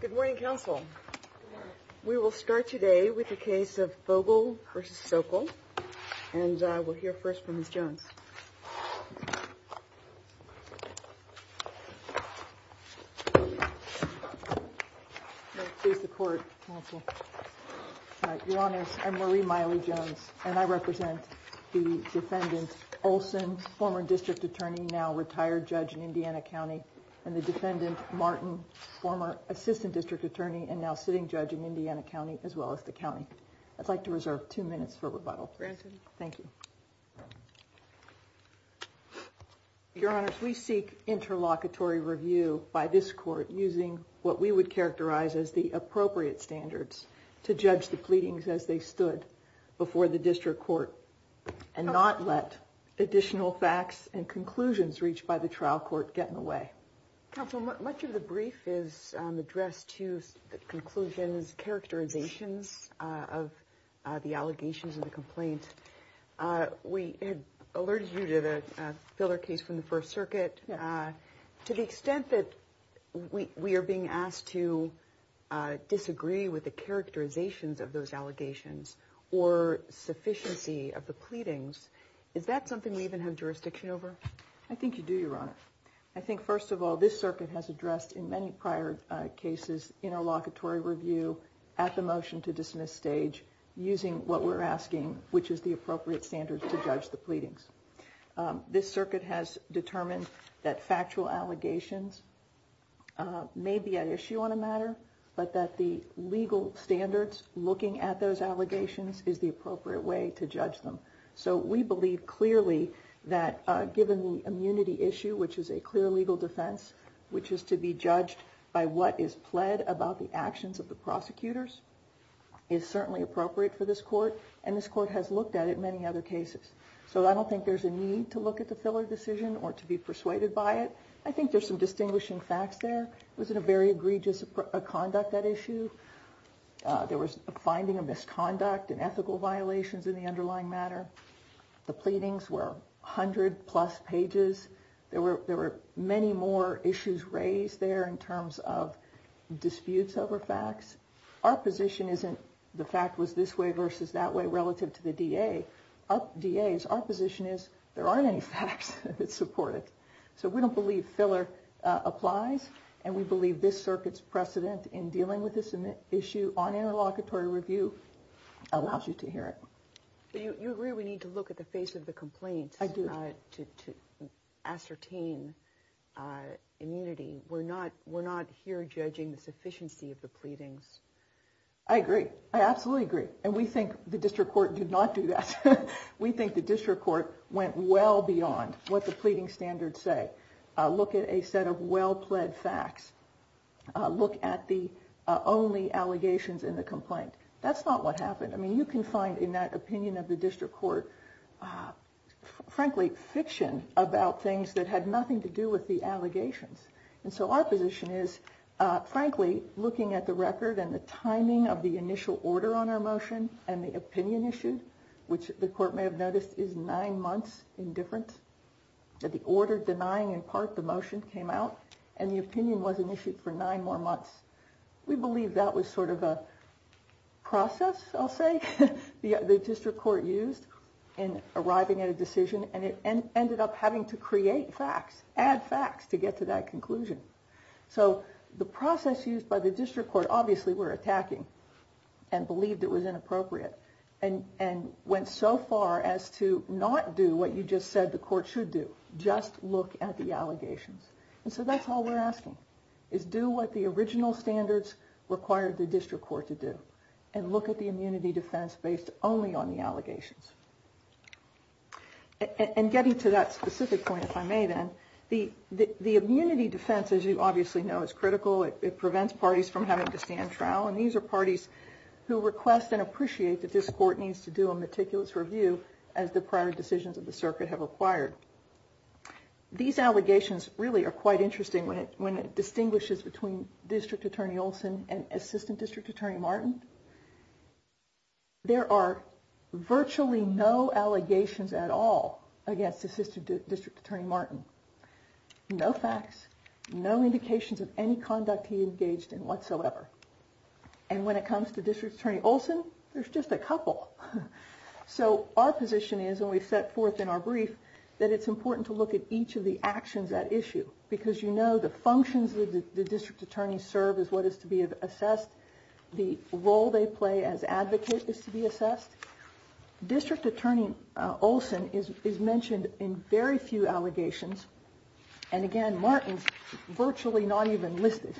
Good morning, counsel. We will start today with the case of Fogle v. Sokol, and we'll hear first from Ms. Jones. Please support, counsel. Your Honors, I'm Marie Miley Jones, and I represent the defendant Olson, former district attorney, now retired judge in Indiana County, and the defendant Martin, former assistant district attorney, and now sitting judge in Indiana County as well as the county. I'd like to reserve two minutes for rebuttal. Thank you. Your Honors, we seek interlocutory review by this court using what we would characterize as the appropriate standards to judge the pleadings as they stood before the district court, and not let additional facts and conclusions reached by the trial court get in the way. Counsel, much of the brief is addressed to the conclusions, characterizations of the allegations of the complaint. We had alerted you to the Filler case from the First Circuit. To the extent that we are being asked to disagree with the characterizations of those allegations or sufficiency of the pleadings, is that something we even have jurisdiction over? I think you do, Your Honor. I think, first of all, this circuit has addressed in many prior cases interlocutory review at the motion to dismiss stage using what we're asking, which is the appropriate standards to judge the pleadings. This circuit has determined that factual allegations may be an issue on a matter, but that the legal standards looking at those allegations is the appropriate way to judge them. So we believe clearly that given the immunity issue, which is a clear legal defense, which is to be judged by what is pled about the actions of the prosecutors, is certainly appropriate for this court. And this court has looked at it in many other cases. So I don't think there's a need to look at the Filler decision or to be persuaded by it. I think there's some distinguishing facts there. It was a very egregious conduct, that issue. There was a finding of misconduct and ethical violations in the underlying matter. The pleadings were 100 plus pages. There were many more issues raised there in terms of disputes over facts. Our position isn't the fact was this way versus that way relative to the DA. Our position is there aren't any facts that support it. So we don't believe Filler applies and we believe this circuit's precedent in dealing with this issue on interlocutory review allows you to hear it. You agree we need to look at the face of the complaints to ascertain immunity. We're not we're not here judging the sufficiency of the pleadings. I agree. I absolutely agree. And we think the district court did not do that. We think the district court went well beyond what the pleading standards say. Look at a set of well pled facts. Look at the only allegations in the complaint. That's not what happened. I mean, you can find in that opinion of the district court, frankly, fiction about things that had nothing to do with the allegations. And so our position is, frankly, looking at the record and the timing of the initial order on our motion and the opinion issue, which the court may have noticed is nine months in difference that the order denying in part the motion came out and the opinion wasn't issued for nine more months. We believe that was sort of a process. I'll say the district court used in arriving at a decision. And it ended up having to create facts, add facts to get to that conclusion. So the process used by the district court obviously were attacking and believed it was inappropriate and and went so far as to not do what you just said the court should do. Just look at the allegations. And so that's all we're asking is do what the original standards required the district court to do and look at the immunity defense based only on the allegations. And getting to that specific point, if I may, then the the immunity defense, as you obviously know, is critical. It prevents parties from having to stand trial. And these are parties who request and appreciate that this court needs to do a meticulous review as the prior decisions of the circuit have acquired. These allegations really are quite interesting when it when it distinguishes between District Attorney Olson and Assistant District Attorney Martin. There are virtually no allegations at all against Assistant District Attorney Martin. No facts, no indications of any conduct he engaged in whatsoever. And when it comes to District Attorney Olson, there's just a couple. So our position is when we set forth in our brief that it's important to look at each of the actions at issue because, you know, the functions of the district attorney serve is what is to be assessed. The role they play as advocates is to be assessed. District Attorney Olson is mentioned in very few allegations. And again, Martin's virtually not even listed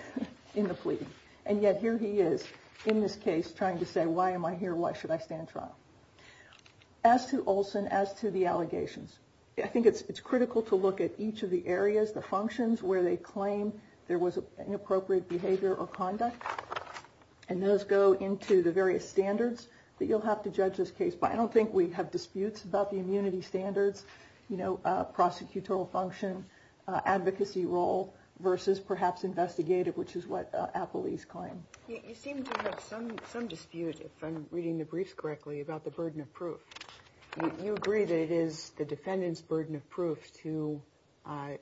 in the plea. And yet here he is in this case trying to say, why am I here? Why should I stand trial? As to Olson, as to the allegations, I think it's critical to look at each of the areas, the functions where they claim there was an appropriate behavior or conduct. And those go into the various standards that you'll have to judge this case by. I don't think we have disputes about the immunity standards, you know, prosecutorial function, advocacy role versus perhaps investigative, which is what appellees claim. You seem to have some dispute, if I'm reading the briefs correctly, about the burden of proof. You agree that it is the defendant's burden of proof to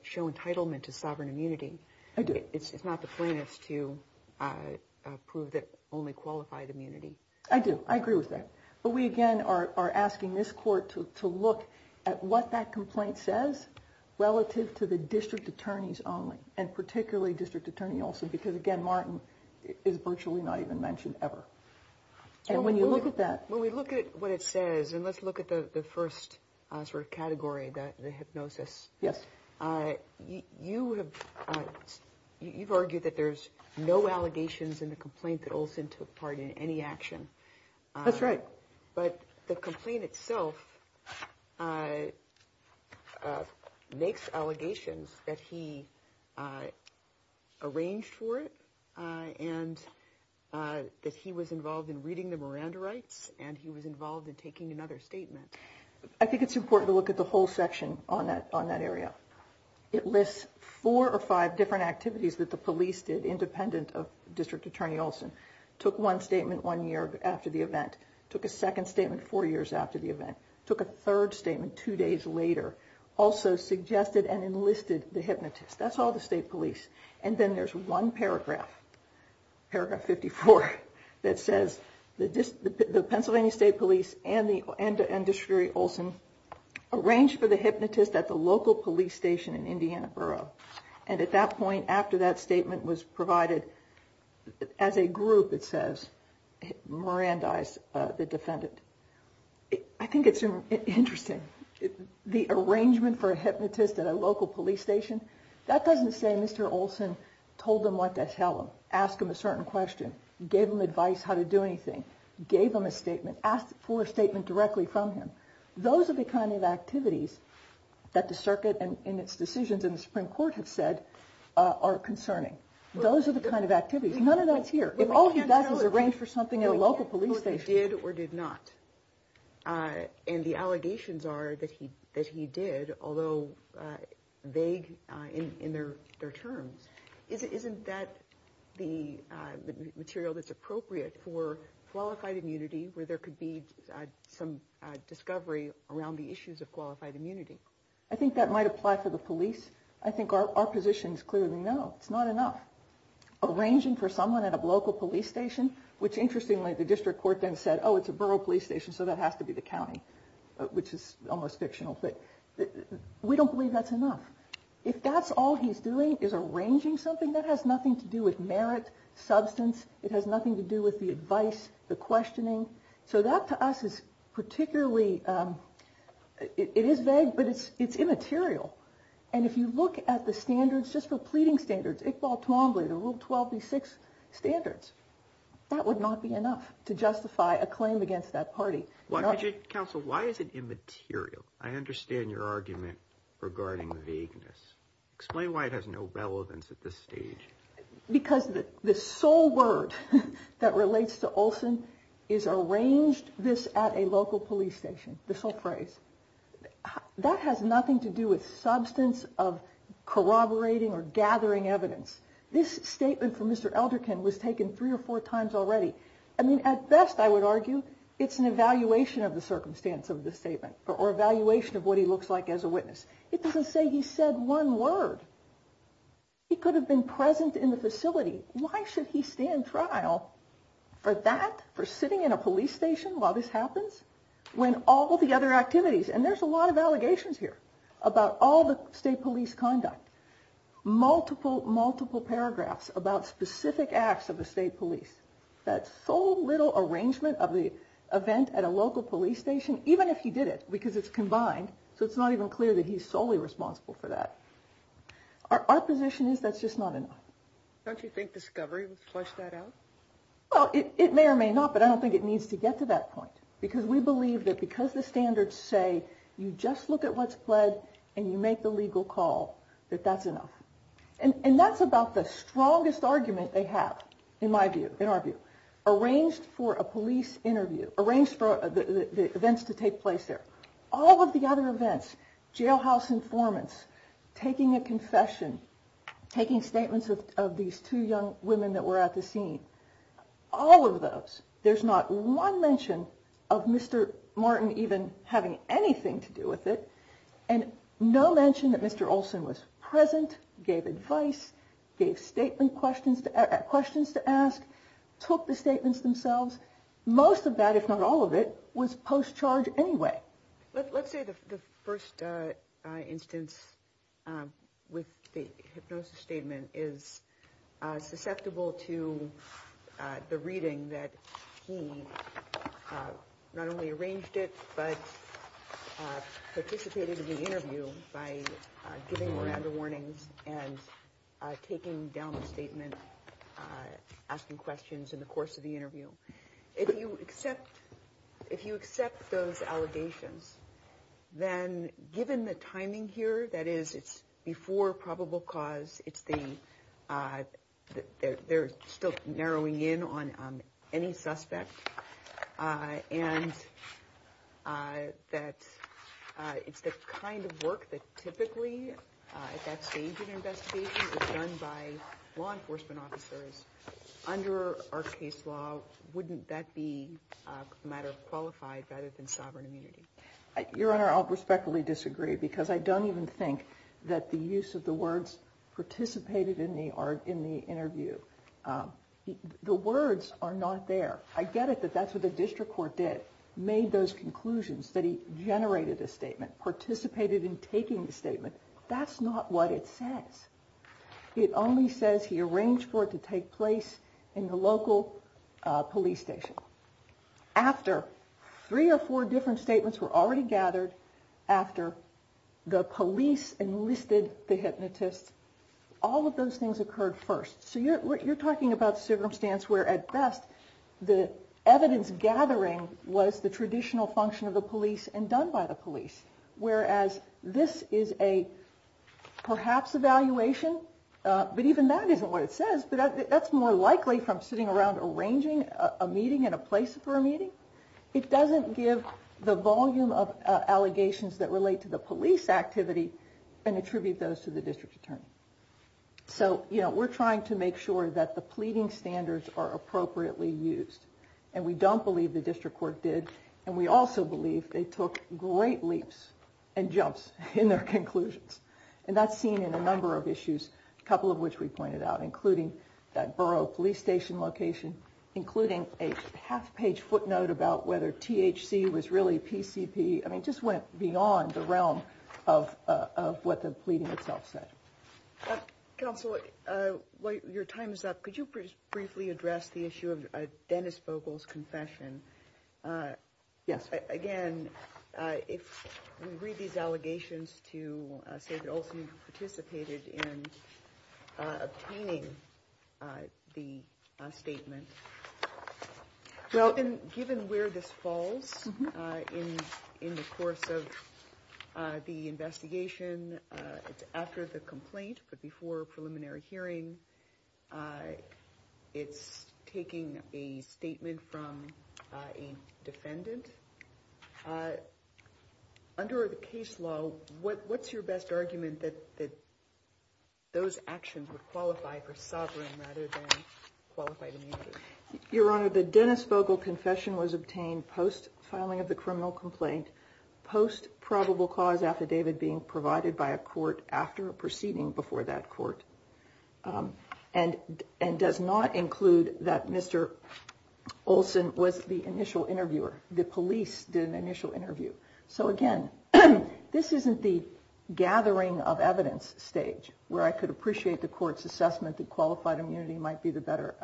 show entitlement to sovereign immunity. It's not the plaintiff's to prove that only qualified immunity. I do. I agree with that. But we again are asking this court to look at what that complaint says relative to the district attorneys only. And particularly District Attorney Olson, because, again, Martin is virtually not even mentioned ever. And when you look at that, when we look at what it says and let's look at the first sort of category that the hypnosis. Yes. You have you've argued that there's no allegations in the complaint that Olson took part in any action. That's right. But the complaint itself makes allegations that he arranged for it and that he was involved in reading the Miranda rights and he was involved in taking another statement. I think it's important to look at the whole section on that on that area. It lists four or five different activities that the police did, independent of District Attorney Olson, took one statement one year after the event, took a second statement four years after the event, took a third statement two days later. Also suggested and enlisted the hypnotist. That's all the state police. And then there's one paragraph, paragraph 54, that says the Pennsylvania State Police and the industry Olson arranged for the hypnotist at the local police station in Indiana Borough. And at that point, after that statement was provided as a group, it says Miranda is the defendant. I think it's interesting. The arrangement for a hypnotist at a local police station. That doesn't say Mr. Olson told them what to tell him, ask him a certain question, gave him advice how to do anything, gave him a statement, asked for a statement directly from him. Those are the kind of activities that the circuit and its decisions in the Supreme Court have said are concerning. Those are the kind of activities. None of that's here. If all he does is arrange for something at a local police station. Did or did not. And the allegations are that he that he did, although vague in their terms. Isn't that the material that's appropriate for qualified immunity, where there could be some discovery around the issues of qualified immunity? I think that might apply for the police. I think our positions clearly know it's not enough. Arranging for someone at a local police station, which interestingly, the district court then said, oh, it's a borough police station. So that has to be the county, which is almost fictional. But we don't believe that's enough. If that's all he's doing is arranging something that has nothing to do with merit substance. It has nothing to do with the advice, the questioning. So that to us is particularly it is vague, but it's it's immaterial. And if you look at the standards just for pleading standards, Iqbal Twombly, the Rule 12B6 standards, that would not be enough to justify a claim against that party. Why did you counsel? Why is it immaterial? I understand your argument regarding vagueness. Explain why it has no relevance at this stage. Because the sole word that relates to Olson is arranged this at a local police station. The sole phrase that has nothing to do with substance of corroborating or gathering evidence. This statement from Mr. Elderkin was taken three or four times already. I mean, at best, I would argue it's an evaluation of the circumstance of the statement or evaluation of what he looks like as a witness. It doesn't say he said one word. He could have been present in the facility. Why should he stand trial for that, for sitting in a police station while this happens? When all the other activities and there's a lot of allegations here about all the state police conduct, multiple, multiple paragraphs about specific acts of the state police. That sole little arrangement of the event at a local police station, even if he did it, because it's combined. So it's not even clear that he's solely responsible for that. Our position is that's just not enough. Don't you think discovery would flush that out? Well, it may or may not, but I don't think it needs to get to that point. Because we believe that because the standards say you just look at what's pled and you make the legal call that that's enough. And that's about the strongest argument they have, in my view, in our view, arranged for a police interview, arranged for the events to take place there. All of the other events, jailhouse informants, taking a confession, taking statements of these two young women that were at the scene, all of those. There's not one mention of Mr. Martin even having anything to do with it. And no mention that Mr. Olson was present, gave advice, gave statement questions, questions to ask, took the statements themselves. Most of that, if not all of it was post-charge anyway. Let's say the first instance with the hypnosis statement is susceptible to the reading that he not only arranged it, but participated in the interview by giving Miranda warnings and taking down the statement, asking questions in the course of the interview. If you accept those allegations, then given the timing here, that is, it's before probable cause, they're still narrowing in on any suspect, and that it's the kind of work that typically, at that stage in an investigation, is done by law enforcement officers, under our case law, wouldn't that be a matter of qualified rather than sovereign immunity? Your Honor, I'll respectfully disagree, because I don't even think that the use of the words participated in the interview. The words are not there. I get it that that's what the district court did, made those conclusions, that he generated a statement, participated in taking the statement. That's not what it says. It only says he arranged for it to take place in the local police station. After three or four different statements were already gathered, after the police enlisted the hypnotist, all of those things occurred first. So you're talking about circumstance where, at best, the evidence gathering was the traditional function of the police and done by the police. Whereas this is a perhaps evaluation, but even that isn't what it says. But that's more likely from sitting around arranging a meeting and a place for a meeting. It doesn't give the volume of allegations that relate to the police activity and attribute those to the district attorney. So, you know, we're trying to make sure that the pleading standards are appropriately used, and we don't believe the district court did. And we also believe they took great leaps and jumps in their conclusions. And that's seen in a number of issues, a couple of which we pointed out, including that borough police station location, including a half page footnote about whether THC was really PCP. I mean, just went beyond the realm of what the pleading itself said. Counsel, while your time is up, could you briefly address the issue of Dennis Vogel's confession? Yes. Again, if we read these allegations to say that Olsen participated in obtaining the statement. Well, given where this falls in the course of the investigation, it's after the complaint. But before preliminary hearing, it's taking a statement from a defendant under the case law. So what's your best argument that those actions would qualify for sovereign rather than qualified? Your Honor, the Dennis Vogel confession was obtained post filing of the criminal complaint, post probable cause affidavit being provided by a court after a proceeding before that court. And and does not include that Mr. Olsen was the initial interviewer. The police did an initial interview. So again, this isn't the gathering of evidence stage where I could appreciate the court's assessment that qualified immunity might be the better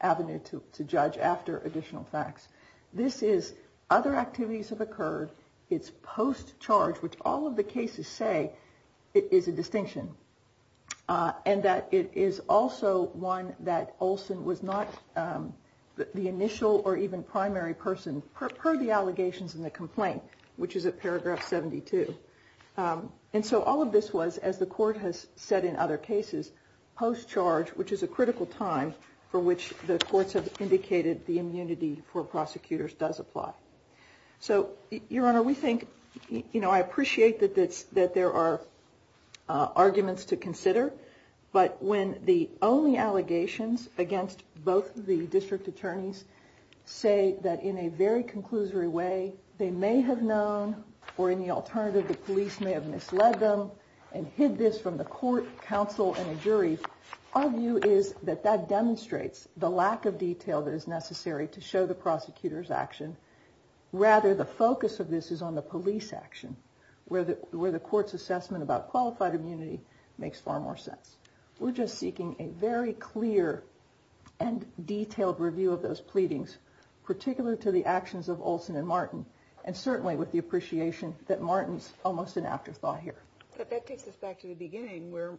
avenue to judge after additional facts. This is other activities have occurred. It's post charge, which all of the cases say is a distinction. And that it is also one that Olsen was not the initial or even primary person per the allegations in the complaint, which is a paragraph 72. And so all of this was, as the court has said in other cases, post charge, which is a critical time for which the courts have indicated the immunity for prosecutors does apply. So, Your Honor, we think, you know, I appreciate that that's that there are arguments to consider. But when the only allegations against both the district attorneys say that in a very conclusory way, they may have known or in the alternative, the police may have misled them and hid this from the court, Our view is that that demonstrates the lack of detail that is necessary to show the prosecutor's action. Rather, the focus of this is on the police action where the where the court's assessment about qualified immunity makes far more sense. We're just seeking a very clear and detailed review of those pleadings, particular to the actions of Olsen and Martin, and certainly with the appreciation that Martin's almost an afterthought here. But that takes us back to the beginning where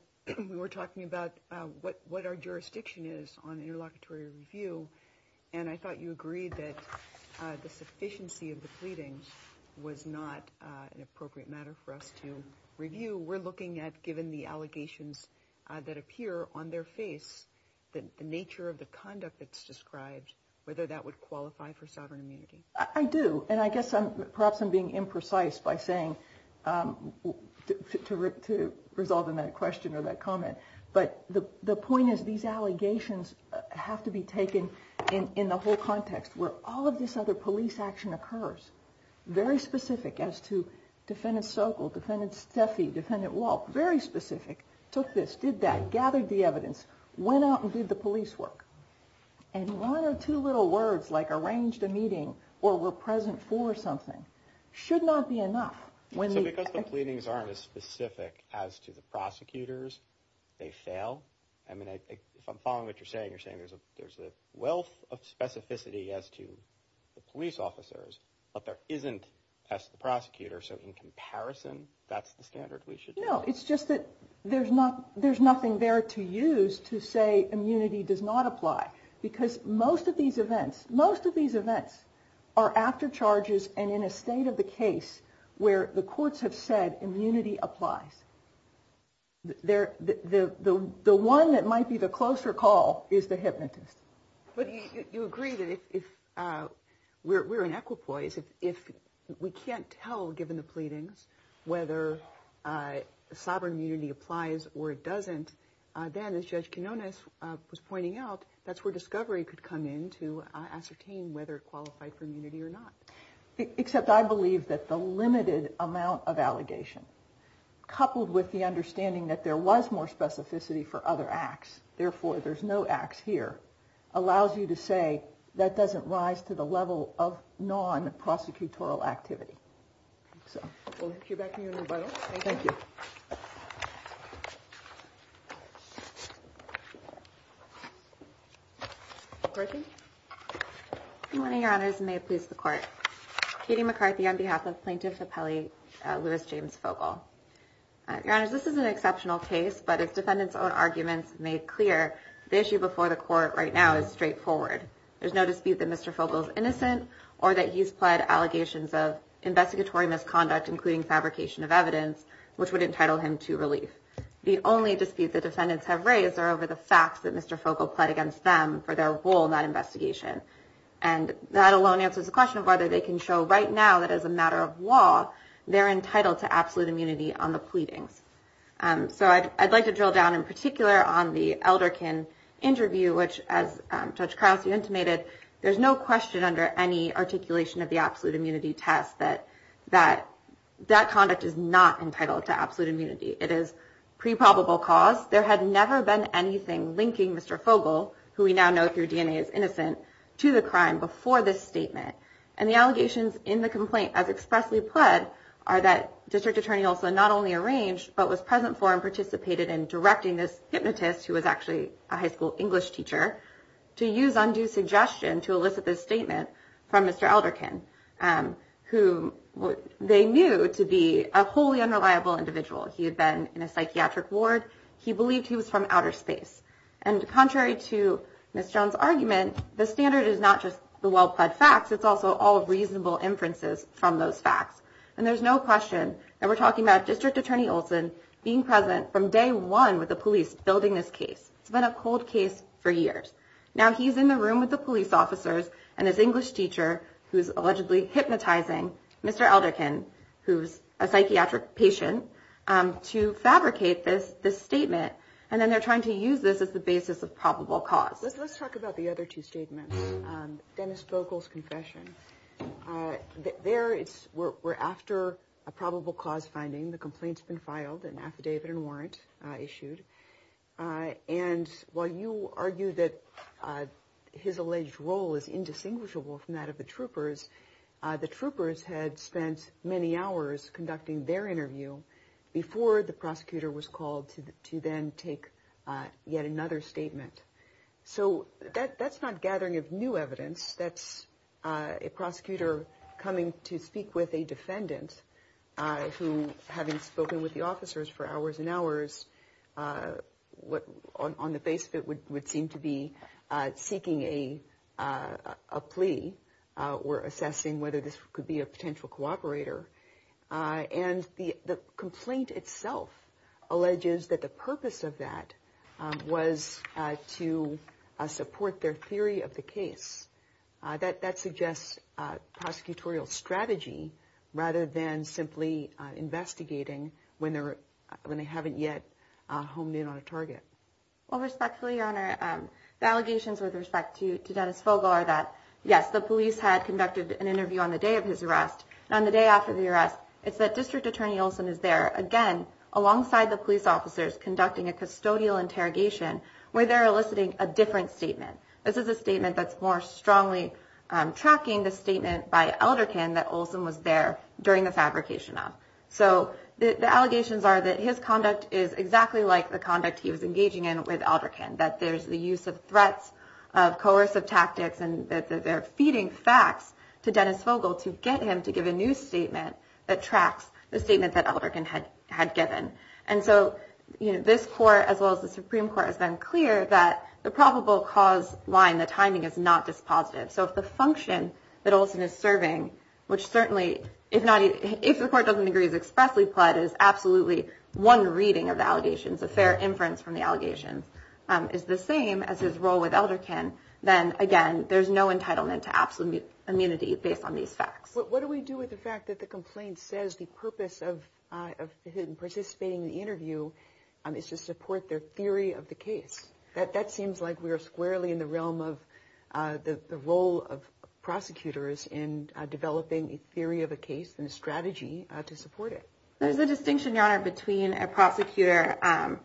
we were talking about what what our jurisdiction is on interlocutory review. And I thought you agreed that the sufficiency of the pleadings was not an appropriate matter for us to review. We're looking at given the allegations that appear on their face, the nature of the conduct that's described, whether that would qualify for sovereign immunity. I do. And I guess I'm perhaps I'm being imprecise by saying to resolve in that question or that comment. But the point is, these allegations have to be taken in the whole context where all of this other police action occurs. Very specific as to Defendant Sokol, Defendant Steffy, Defendant Walt, very specific. Took this, did that, gathered the evidence, went out and did the police work. And one or two little words like arranged a meeting or were present for something should not be enough. Because the pleadings aren't as specific as to the prosecutors, they fail. I mean, if I'm following what you're saying, you're saying there's a there's a wealth of specificity as to the police officers, but there isn't as the prosecutor. So in comparison, that's the standard we should know. It's just that there's not there's nothing there to use to say immunity does not apply because most of these events, most of these events are after charges and in a state of the case where the courts have said immunity applies. There, the one that might be the closer call is the hypnotist. But you agree that if we're in equipoise, if we can't tell, given the pleadings, whether sovereign immunity applies or it doesn't, then as Judge Quinones was pointing out, that's where discovery could come in to ascertain whether it qualified for immunity or not. Except I believe that the limited amount of allegation coupled with the understanding that there was more specificity for other acts. Therefore, there's no acts here allows you to say that doesn't rise to the level of non-prosecutorial activity. So we'll get back to you. Thank you. One of your honors may please the court. Katie McCarthy, on behalf of plaintiff. Lewis James Fogle. This is an exceptional case, but it's defendants own arguments made clear. The issue before the court right now is straightforward. There's no dispute that Mr. Fogle is innocent or that he's pled allegations of investigatory misconduct, including fabrication of evidence, which would entitle him to relief. The only dispute the defendants have raised are over the facts that Mr. Fogle pled against them for their role in that investigation. And that alone answers the question of whether they can show right now that as a matter of law, they're entitled to absolute immunity on the pleadings. So I'd like to drill down in particular on the elder can interview, which, as Judge Krause, you intimated, there's no question under any articulation of the absolute immunity test that that that conduct is not entitled to absolute immunity. It is pre probable cause. There had never been anything linking Mr. Fogle, who we now know through DNA, is innocent to the crime before this statement. And the allegations in the complaint, as expressly pled, are that district attorney also not only arranged, but was present for and participated in directing this hypnotist, who was actually a high school English teacher, to use undue suggestion to elicit this statement from Mr. Elderkin, who they knew to be a wholly unreliable individual. He had been in a psychiatric ward. He believed he was from outer space. And contrary to Mr. Jones argument, the standard is not just the well-plaid facts. It's also all reasonable inferences from those facts. And there's no question that we're talking about district attorney Olson being present from day one with the police building this case. It's been a cold case for years now. He's in the room with the police officers and his English teacher who is allegedly hypnotizing Mr. Elderkin, who's a psychiatric patient, to fabricate this statement. And then they're trying to use this as the basis of probable cause. Let's talk about the other two statements. Dennis Fogle's confession. There it's we're after a probable cause finding the complaints been filed and affidavit and warrant issued. And while you argue that his alleged role is indistinguishable from that of the troopers, the troopers had spent many hours conducting their interview before the prosecutor was called to then take yet another statement. So that's not gathering of new evidence. That's a prosecutor coming to speak with a defendant. Having spoken with the officers for hours and hours, what on the basis of it would seem to be seeking a plea or assessing whether this could be a potential cooperator. And the complaint itself alleges that the purpose of that was to support their theory of the case. That suggests prosecutorial strategy rather than simply investigating when they're when they haven't yet honed in on a target. Well, respectfully, your honor, the allegations with respect to Dennis Fogle are that, yes, the police had conducted an interview on the day of his arrest on the day after the arrest. It's that District Attorney Olson is there again alongside the police officers conducting a custodial interrogation where they're eliciting a different statement. This is a statement that's more strongly tracking the statement by Elderkin that Olson was there during the fabrication of. So the allegations are that his conduct is exactly like the conduct he was engaging in with Elderkin, that there's the use of threats of coercive tactics and that they're feeding facts to Dennis Fogle to get him to give a new statement that tracks the statement that Elderkin had had given. And so this court, as well as the Supreme Court, has been clear that the probable cause line, the timing is not dispositive. So if the function that Olson is serving, which certainly, if not, if the court doesn't agree, is expressly pled is absolutely one reading of the allegations of fair inference from the allegations is the same as his role with Elderkin. Then, again, there's no entitlement to absolute immunity based on these facts. What do we do with the fact that the complaint says the purpose of participating in the interview is to support their theory of the case? That that seems like we are squarely in the realm of the role of prosecutors in developing a theory of a case and a strategy to support it. There's a distinction, Your Honor, between a prosecutor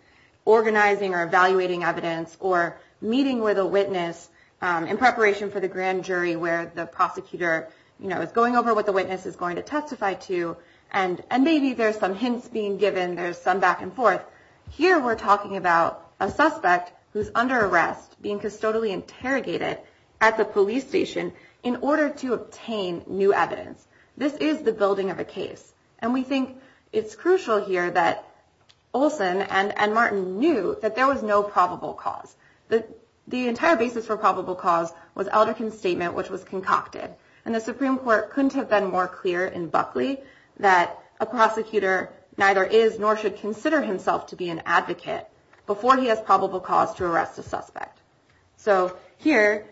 organizing or evaluating evidence or meeting with a witness in preparation for the grand jury where the prosecutor is going over what the witness is going to testify to. And maybe there's some hints being given. There's some back and forth. Here we're talking about a suspect who's under arrest, being custodially interrogated at the police station in order to obtain new evidence. This is the building of a case. And we think it's crucial here that Olson and Martin knew that there was no probable cause. The the entire basis for probable cause was Elderkin's statement, which was concocted. And the Supreme Court couldn't have been more clear in Buckley that a prosecutor neither is nor should consider himself to be an advocate before he has probable cause to arrest a suspect. So here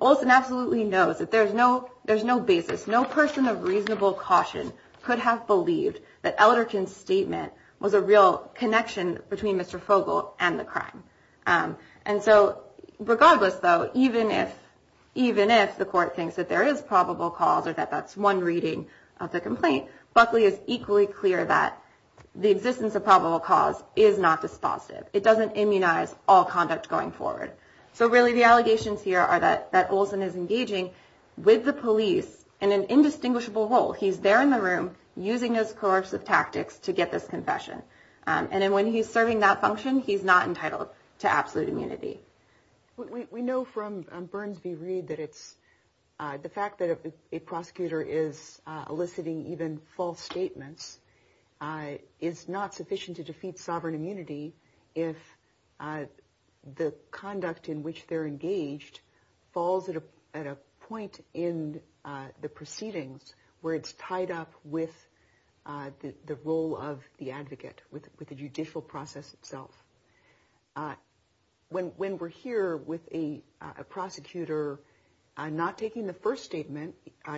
Olson absolutely knows that there's no there's no basis. No person of reasonable caution could have believed that Elderkin's statement was a real connection between Mr. And so regardless, though, even if even if the court thinks that there is probable cause or that that's one reading of the complaint, Buckley is equally clear that the existence of probable cause is not dispositive. It doesn't immunize all conduct going forward. So really, the allegations here are that that Olson is engaging with the police in an indistinguishable role. He's there in the room using his coercive tactics to get this confession. And then when he's serving that function, he's not entitled to absolute immunity. We know from Burns v. Reed that it's the fact that a prosecutor is eliciting even false statements is not sufficient to defeat sovereign immunity. If the conduct in which they're engaged falls at a point in the proceedings where it's tied up with the role of the advocate with the judicial process itself. When we're here with a prosecutor, I'm not taking the first statement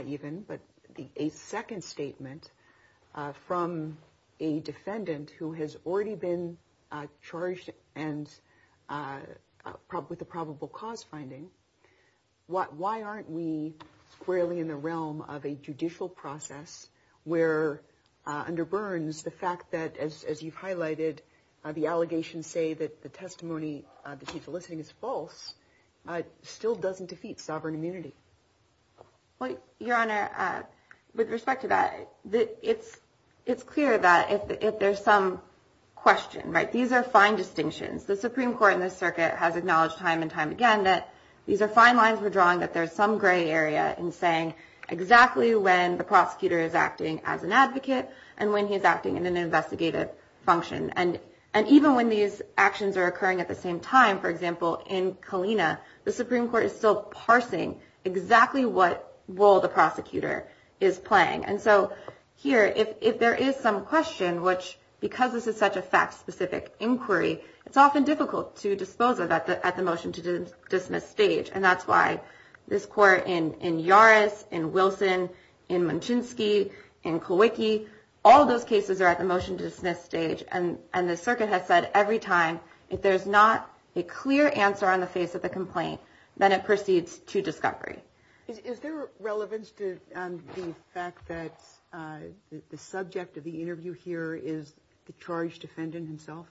even, but a second statement from a defendant who has already been charged and probably the probable cause finding what why aren't we squarely in the realm of a judicial process where under Burns, the fact that, as you've highlighted, the allegations say that the testimony that he's eliciting is false still doesn't defeat sovereign immunity. Well, Your Honor, with respect to that, it's it's clear that if there's some question, right, these are fine distinctions. The Supreme Court in this circuit has acknowledged time and time again that these are fine lines. gray area in saying exactly when the prosecutor is acting as an advocate and when he's acting in an investigative function. And and even when these actions are occurring at the same time, for example, in Kalina, the Supreme Court is still parsing exactly what role the prosecutor is playing. And so here, if there is some question, which because this is such a fact specific inquiry, it's often difficult to dispose of that at the motion to dismiss stage. And that's why this court in Yaris, in Wilson, in Munchinski, in Kawiki, all those cases are at the motion to dismiss stage. And and the circuit has said every time if there's not a clear answer on the face of the complaint, then it proceeds to discovery. Is there relevance to the fact that the subject of the interview here is the charged defendant himself?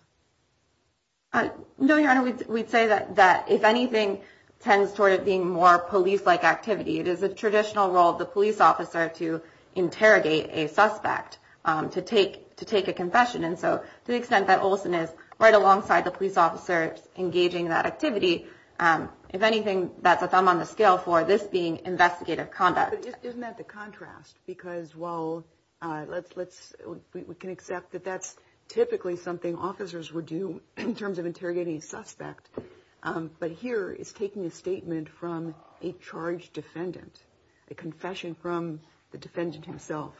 No, your honor, we'd say that that if anything tends toward it being more police like activity, it is a traditional role of the police officer to interrogate a suspect to take to take a confession. And so to the extent that Olson is right alongside the police officers engaging that activity, if anything, that's a thumb on the scale for this being investigative conduct. Isn't that the contrast? Because while let's let's we can accept that that's typically something officers would do in terms of interrogating a suspect. But here is taking a statement from a charged defendant, a confession from the defendant himself.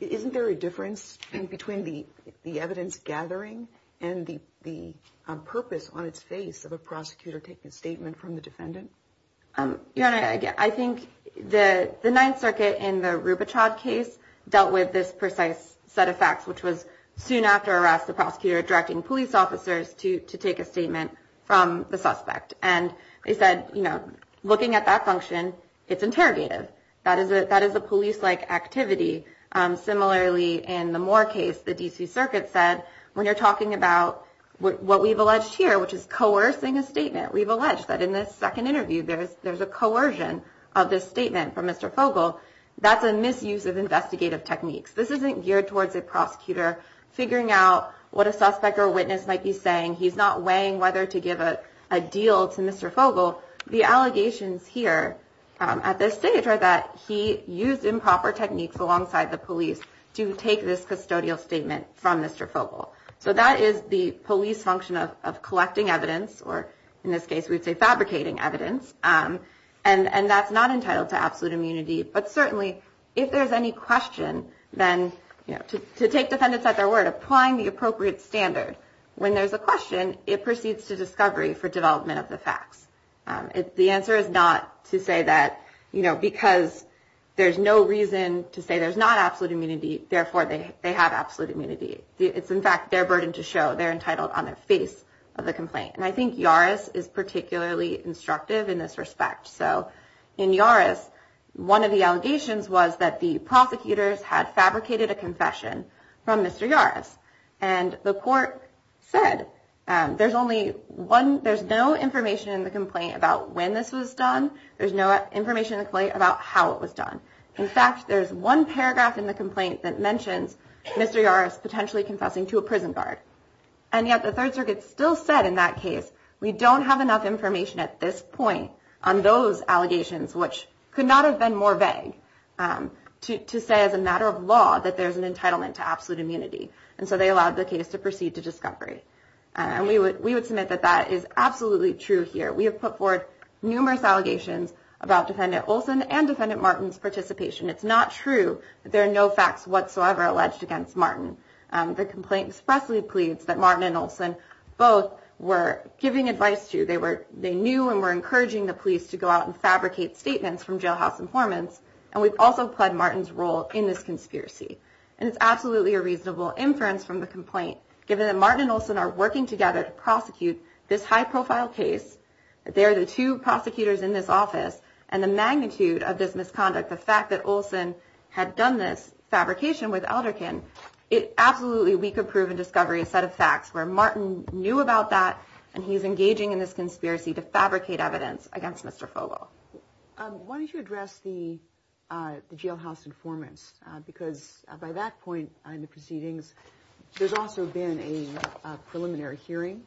Isn't there a difference between the the evidence gathering and the the purpose on its face of a prosecutor taking a statement from the defendant? Your Honor, I think the Ninth Circuit in the Rubichov case dealt with this precise set of facts, which was soon after arrest, the prosecutor directing police officers to to take a statement from the suspect. And they said, you know, looking at that function, it's interrogative. That is it. That is a police like activity. Similarly, in the Moore case, the D.C. Circuit said when you're talking about what we've alleged here, which is coercing a statement, we've alleged that in this second interview there is there's a coercion of this statement from Mr. Fogle. That's a misuse of investigative techniques. This isn't geared towards a prosecutor figuring out what a suspect or witness might be saying. He's not weighing whether to give a deal to Mr. Fogle. The allegations here at this stage are that he used improper techniques alongside the police to take this custodial statement from Mr. Fogle. So that is the police function of collecting evidence or in this case, we'd say fabricating evidence. And that's not entitled to absolute immunity. But certainly if there's any question, then, you know, to take defendants at their word, applying the appropriate standard when there's a question, it proceeds to discovery for development of the facts. If the answer is not to say that, you know, because there's no reason to say there's not absolute immunity. Therefore, they have absolute immunity. It's, in fact, their burden to show they're entitled on the face of the complaint. And I think Yaris is particularly instructive in this respect. So in Yaris, one of the allegations was that the prosecutors had fabricated a confession from Mr. Yaris. And the court said there's only one. There's no information in the complaint about when this was done. There's no information about how it was done. In fact, there's one paragraph in the complaint that mentions Mr. Yaris potentially confessing to a prison guard. And yet the Third Circuit still said in that case, we don't have enough information at this point on those allegations, which could not have been more vague to say as a matter of law that there's an entitlement to absolute immunity. And so they allowed the case to proceed to discovery. And we would we would submit that that is absolutely true here. We have put forward numerous allegations about Defendant Olson and Defendant Martin's participation. It's not true that there are no facts whatsoever alleged against Martin. The complaint expressly pleads that Martin and Olson both were giving advice to. They were they knew and were encouraging the police to go out and fabricate statements from jailhouse informants. And we've also played Martin's role in this conspiracy. And it's absolutely a reasonable inference from the complaint, given that Martin and Olson are working together to prosecute this high profile case. They are the two prosecutors in this office. And the magnitude of this misconduct, the fact that Olson had done this fabrication with Alderkin, it absolutely we could prove in discovery a set of facts where Martin knew about that. And he's engaging in this conspiracy to fabricate evidence against Mr. Fogle. Why don't you address the jailhouse informants? Because by that point in the proceedings, there's also been a preliminary hearing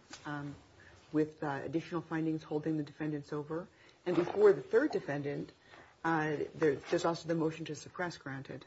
with additional findings holding the defendants over. And before the third defendant, there's also the motion to suppress granted.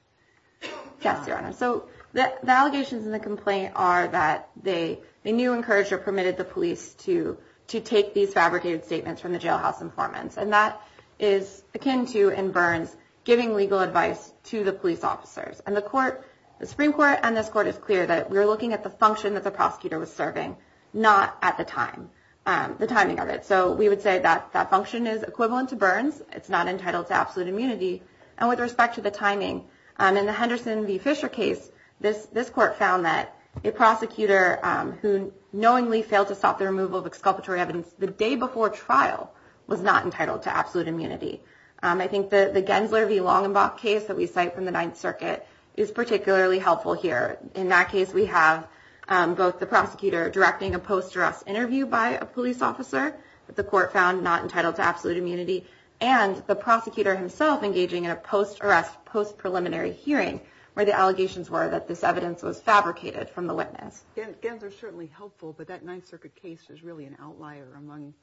Yes, Your Honor. So the allegations in the complaint are that they knew, encouraged or permitted the police to to take these fabricated statements from the jailhouse informants. And that is akin to in Burns giving legal advice to the police officers and the court, the Supreme Court. And this court is clear that we are looking at the function that the prosecutor was serving, not at the time, the timing of it. So we would say that that function is equivalent to Burns. It's not entitled to absolute immunity. And with respect to the timing in the Henderson v. Fisher case, this this court found that a prosecutor who knowingly failed to stop the removal of exculpatory evidence the day before trial was not entitled to absolute immunity. I think that the Gensler v. Longenbach case that we cite from the Ninth Circuit is particularly helpful here. In that case, we have both the prosecutor directing a post arrest interview by a police officer that the court found not entitled to absolute immunity and the prosecutor himself engaging in a post arrest post preliminary hearing where the allegations were that this evidence was fabricated from the witness. Gensler is certainly helpful, but that Ninth Circuit case is really an outlier among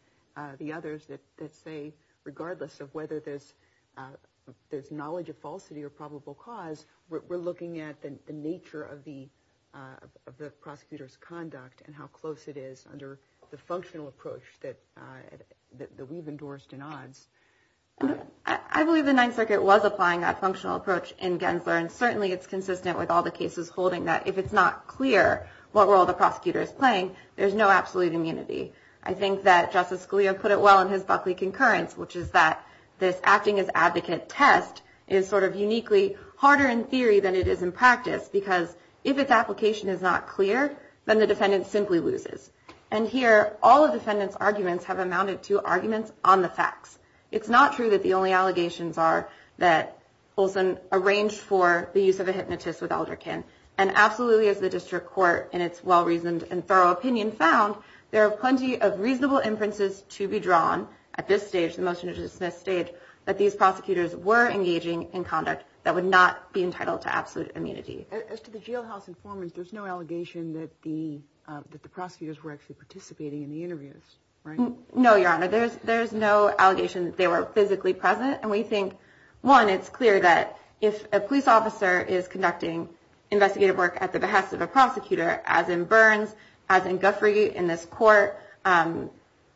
the others that say, regardless of whether there's there's knowledge of falsity or probable cause, we're looking at the nature of the of the prosecutor's conduct and how close it is under the functional approach that we've endorsed in odds. I believe the Ninth Circuit was applying that functional approach in Gensler. And certainly it's consistent with all the cases holding that if it's not clear what role the prosecutor is playing, there's no absolute immunity. I think that Justice Scalia put it well in his Buckley concurrence, which is that this acting as advocate test is sort of uniquely harder in theory than it is in practice, because if its application is not clear, then the defendant simply loses. And here, all of the defendants arguments have amounted to arguments on the facts. It's not true that the only allegations are that Olson arranged for the use of a hypnotist with elder can. And absolutely, as the district court in its well-reasoned and thorough opinion found, there are plenty of reasonable inferences to be drawn at this stage. The motion to dismiss state that these prosecutors were engaging in conduct that would not be entitled to absolute immunity. As to the jailhouse informants, there's no allegation that the that the prosecutors were actually participating in the interviews. No, Your Honor, there's there's no allegation that they were physically present. And we think, one, it's clear that if a police officer is conducting investigative work at the behest of a prosecutor, as in Burns, as in Guthrie in this court and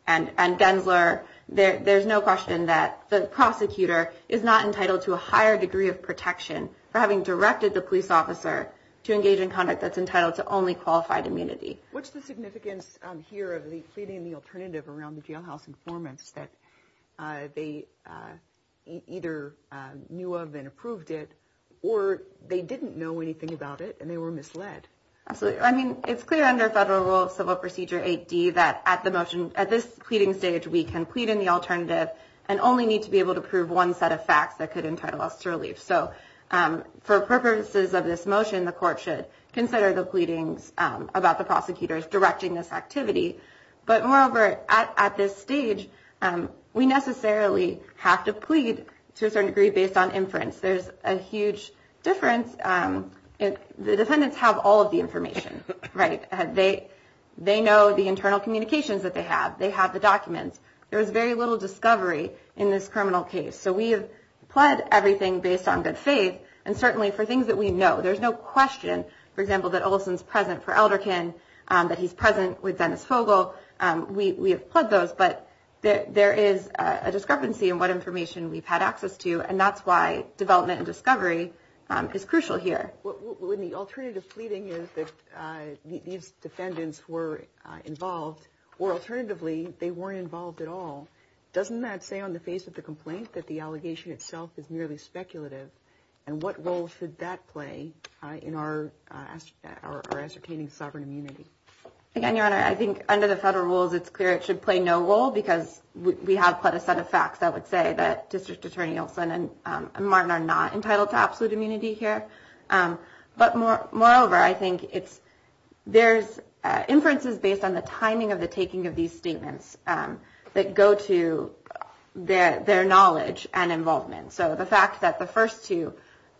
and Gensler there, there's no question that the prosecutor is not entitled to a higher degree of protection for having directed the police officer to engage in conduct. That's entitled to only qualified immunity. What's the significance here of the pleading in the alternative around the jailhouse informants that they either knew of and approved it or they didn't know anything about it and they were misled? So, I mean, it's clear under federal civil procedure 80 that at the motion at this pleading stage, we can plead in the alternative and only need to be able to prove one set of facts that could entitle us to relief. So for purposes of this motion, the court should consider the pleadings about the prosecutors directing this activity. But moreover, at this stage, we necessarily have to plead to a certain degree based on inference. There's a huge difference. The defendants have all of the information. Right. They they know the internal communications that they have. They have the documents. There is very little discovery in this criminal case. So we have pled everything based on good faith and certainly for things that we know. There's no question, for example, that Olson's present for Elderkin, that he's present with Dennis Fogle. We have pled those. But there is a discrepancy in what information we've had access to. And that's why development and discovery is crucial here. When the alternative pleading is that these defendants were involved or alternatively, they weren't involved at all. Doesn't that say on the face of the complaint that the allegation itself is merely speculative? And what role should that play in our ascertaining sovereign immunity? Again, your honor, I think under the federal rules, it's clear it should play no role because we have put a set of facts. I would say that District Attorney Olson and Martin are not entitled to absolute immunity here. But moreover, I think there's inferences based on the timing of the taking of these statements that go to their knowledge and involvement. So the fact that the first two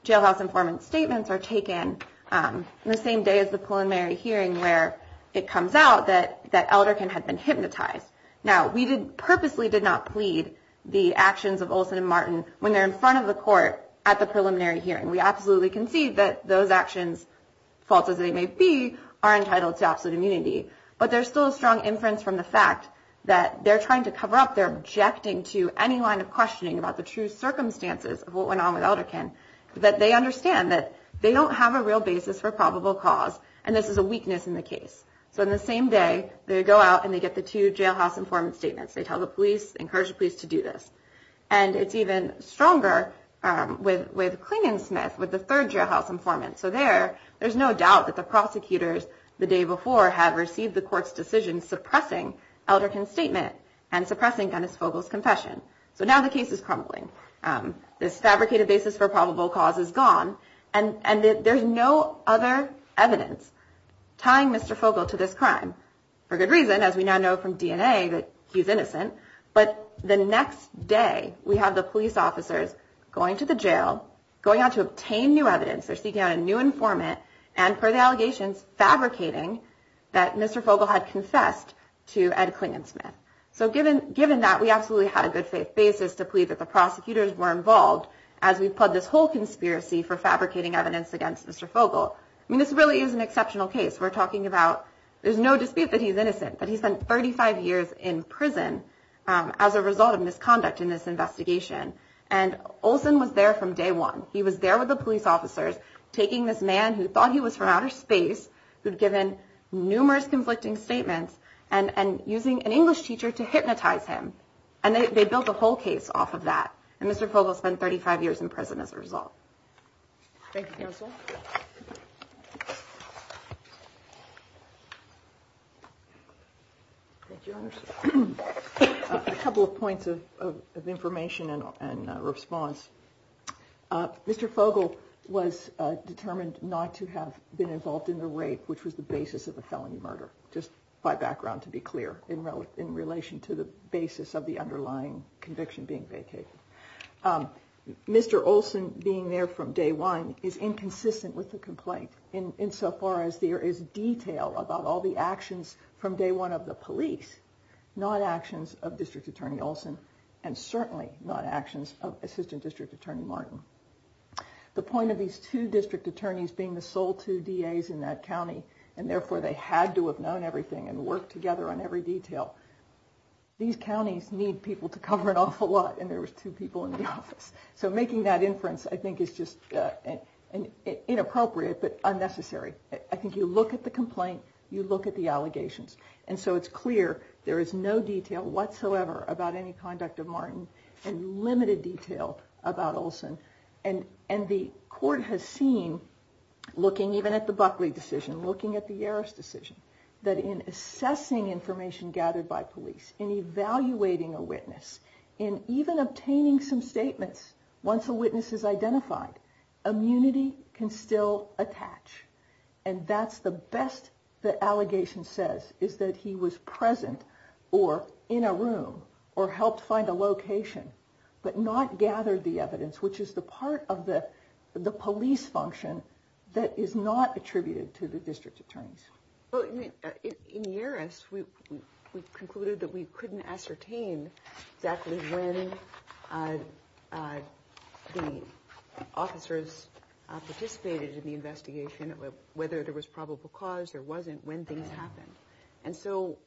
jailhouse informant statements are taken the same day as the preliminary hearing where it comes out that Elderkin had been hypnotized. Now, we purposely did not plead the actions of Olson and Martin when they're in front of the court at the preliminary hearing. We absolutely concede that those actions, false as they may be, are entitled to absolute immunity. But there's still a strong inference from the fact that they're trying to cover up their objecting to any line of questioning about the true circumstances of what went on with Elderkin, that they understand that they don't have a real basis for probable cause. And this is a weakness in the case. So in the same day, they go out and they get the two jailhouse informant statements. They tell the police, encourage the police to do this. And it's even stronger with Klingensmith, with the third jailhouse informant. So there, there's no doubt that the prosecutors the day before have received the court's decision suppressing Elderkin's statement and suppressing Dennis Fogel's confession. So now the case is crumbling. This fabricated basis for probable cause is gone. And there's no other evidence tying Mr. Fogel to this crime. For good reason, as we now know from DNA that he's innocent. But the next day, we have the police officers going to the jail, going out to obtain new evidence. They're seeking out a new informant. And per the allegations fabricating that Mr. Fogel had confessed to Ed Klingensmith. So given, given that, we absolutely had a good faith basis to plead that the prosecutors were involved as we plowed this whole conspiracy for fabricating evidence against Mr. Fogel. I mean, this really is an exceptional case. We're talking about, there's no dispute that he's innocent, but he spent 35 years in prison as a result of misconduct in this investigation. And Olson was there from day one. He was there with the police officers taking this man who thought he was from outer space, who'd given numerous conflicting statements and using an English teacher to hypnotize him. And they built a whole case off of that. And Mr. Fogel spent 35 years in prison as a result. A couple of points of information and response. Mr. Fogel was determined not to have been involved in the rape, which was the basis of a felony murder, just by background, to be clear, in relation to the basis of the underlying conviction being vacated. Mr. Olson being there from day one is inconsistent with the complaint in so far as there is no evidence that there was a detail about all the actions from day one of the police, not actions of District Attorney Olson, and certainly not actions of Assistant District Attorney Martin. The point of these two district attorneys being the sole two DAs in that county, and therefore they had to have known everything and worked together on every detail. These counties need people to cover an awful lot, and there was two people in the office. So making that inference, I think, is just inappropriate but unnecessary. I think you look at the complaint, you look at the allegations, and so it's clear there is no detail whatsoever about any conduct of Martin, and limited detail about Olson. And the court has seen, looking even at the Buckley decision, looking at the Yarris decision, that in assessing information gathered by police, in evaluating a witness, in even obtaining some statements once a witness is identified, immunity can still attach. And that's the best the allegation says, is that he was present, or in a room, or helped find a location, but not gathered the evidence, which is the part of the police function that is not attributed to the district attorneys. Well, in Yarris, we concluded that we couldn't ascertain exactly when the officers found the evidence, and that's not true. They participated in the investigation, whether there was probable cause or wasn't, when things happened. And so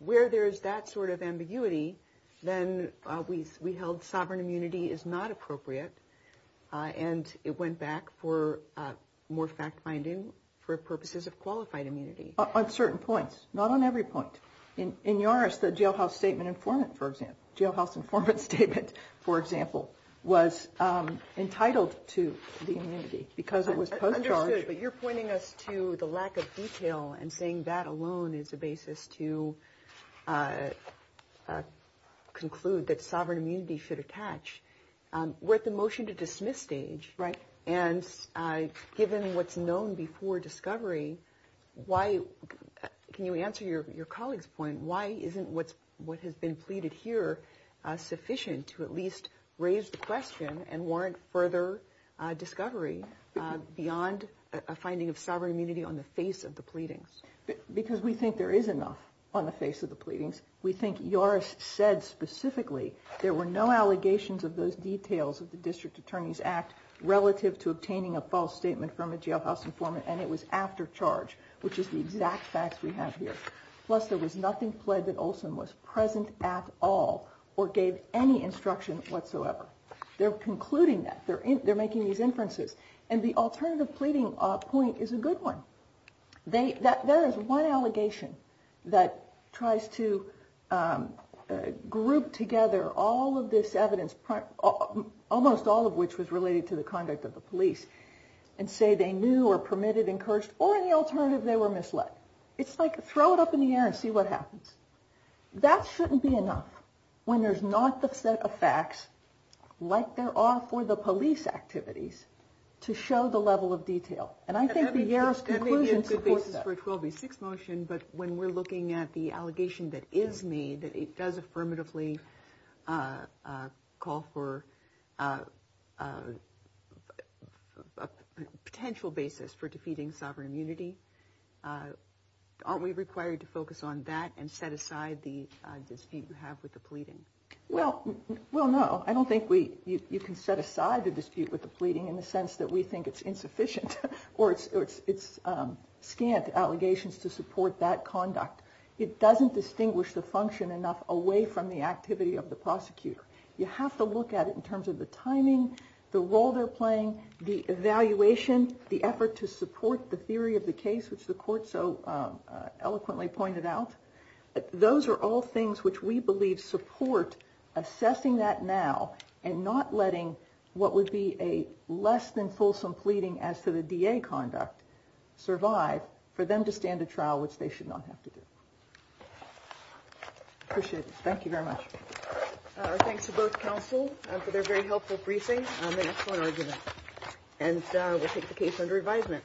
where there's that sort of ambiguity, then we held sovereign immunity is not appropriate, and it went back for more fact-finding for purposes of qualified immunity. On certain points, not on every point. In Yarris, the jailhouse statement informant, for example, was entitled to the immunity, because it was post-charge. But you're pointing us to the lack of detail, and saying that alone is a basis to conclude that sovereign immunity should attach. We're at the motion to dismiss stage, and given what's known before discovery, why, can you answer your colleague's point, why isn't what has been pleaded here sufficient to at least raise the question and warrant further discovery beyond a finding of sovereign immunity on the face of the pleadings? Because we think there is enough on the face of the pleadings. We think Yarris said specifically there were no allegations of those details of the District Attorney's Act relative to obtaining a false statement from a jailhouse informant, and it was after charge, which is the exact facts we believe, that Yarris at all or gave any instruction whatsoever. They're concluding that. They're making these inferences. And the alternative pleading point is a good one. There is one allegation that tries to group together all of this evidence, almost all of which was related to the conduct of the police, and say they knew or permitted, encouraged, or any alternative, they were misled. It's like throw it up in the air and see what happens. That shouldn't be enough when there's not the set of facts, like there are for the police activities, to show the level of detail. And I think the Yarris conclusion supports that. But when we're looking at the allegation that is made, that it does affirmatively call for a potential basis for defeating sovereign immunity, aren't we required to focus on that and set aside the dispute you have with the pleading? Well, no. I don't think you can set aside the dispute with the pleading in the sense that we think it's insufficient or it's scant allegations to support that conduct. It doesn't distinguish the function enough away from the activity of the prosecutor. You have to look at it in terms of the timing, the role they're playing, the evaluation, the effort to support the theory of the case, which the court so eloquently pointed out. Those are all things which we believe support assessing that now and not letting what would be a less than fulsome pleading as to the DA conduct survive for them to stand a trial, which they should not have to do. Appreciate it. Thank you very much. Our thanks to both counsel for their very helpful briefing and excellent argument. And we'll take the case under advisement.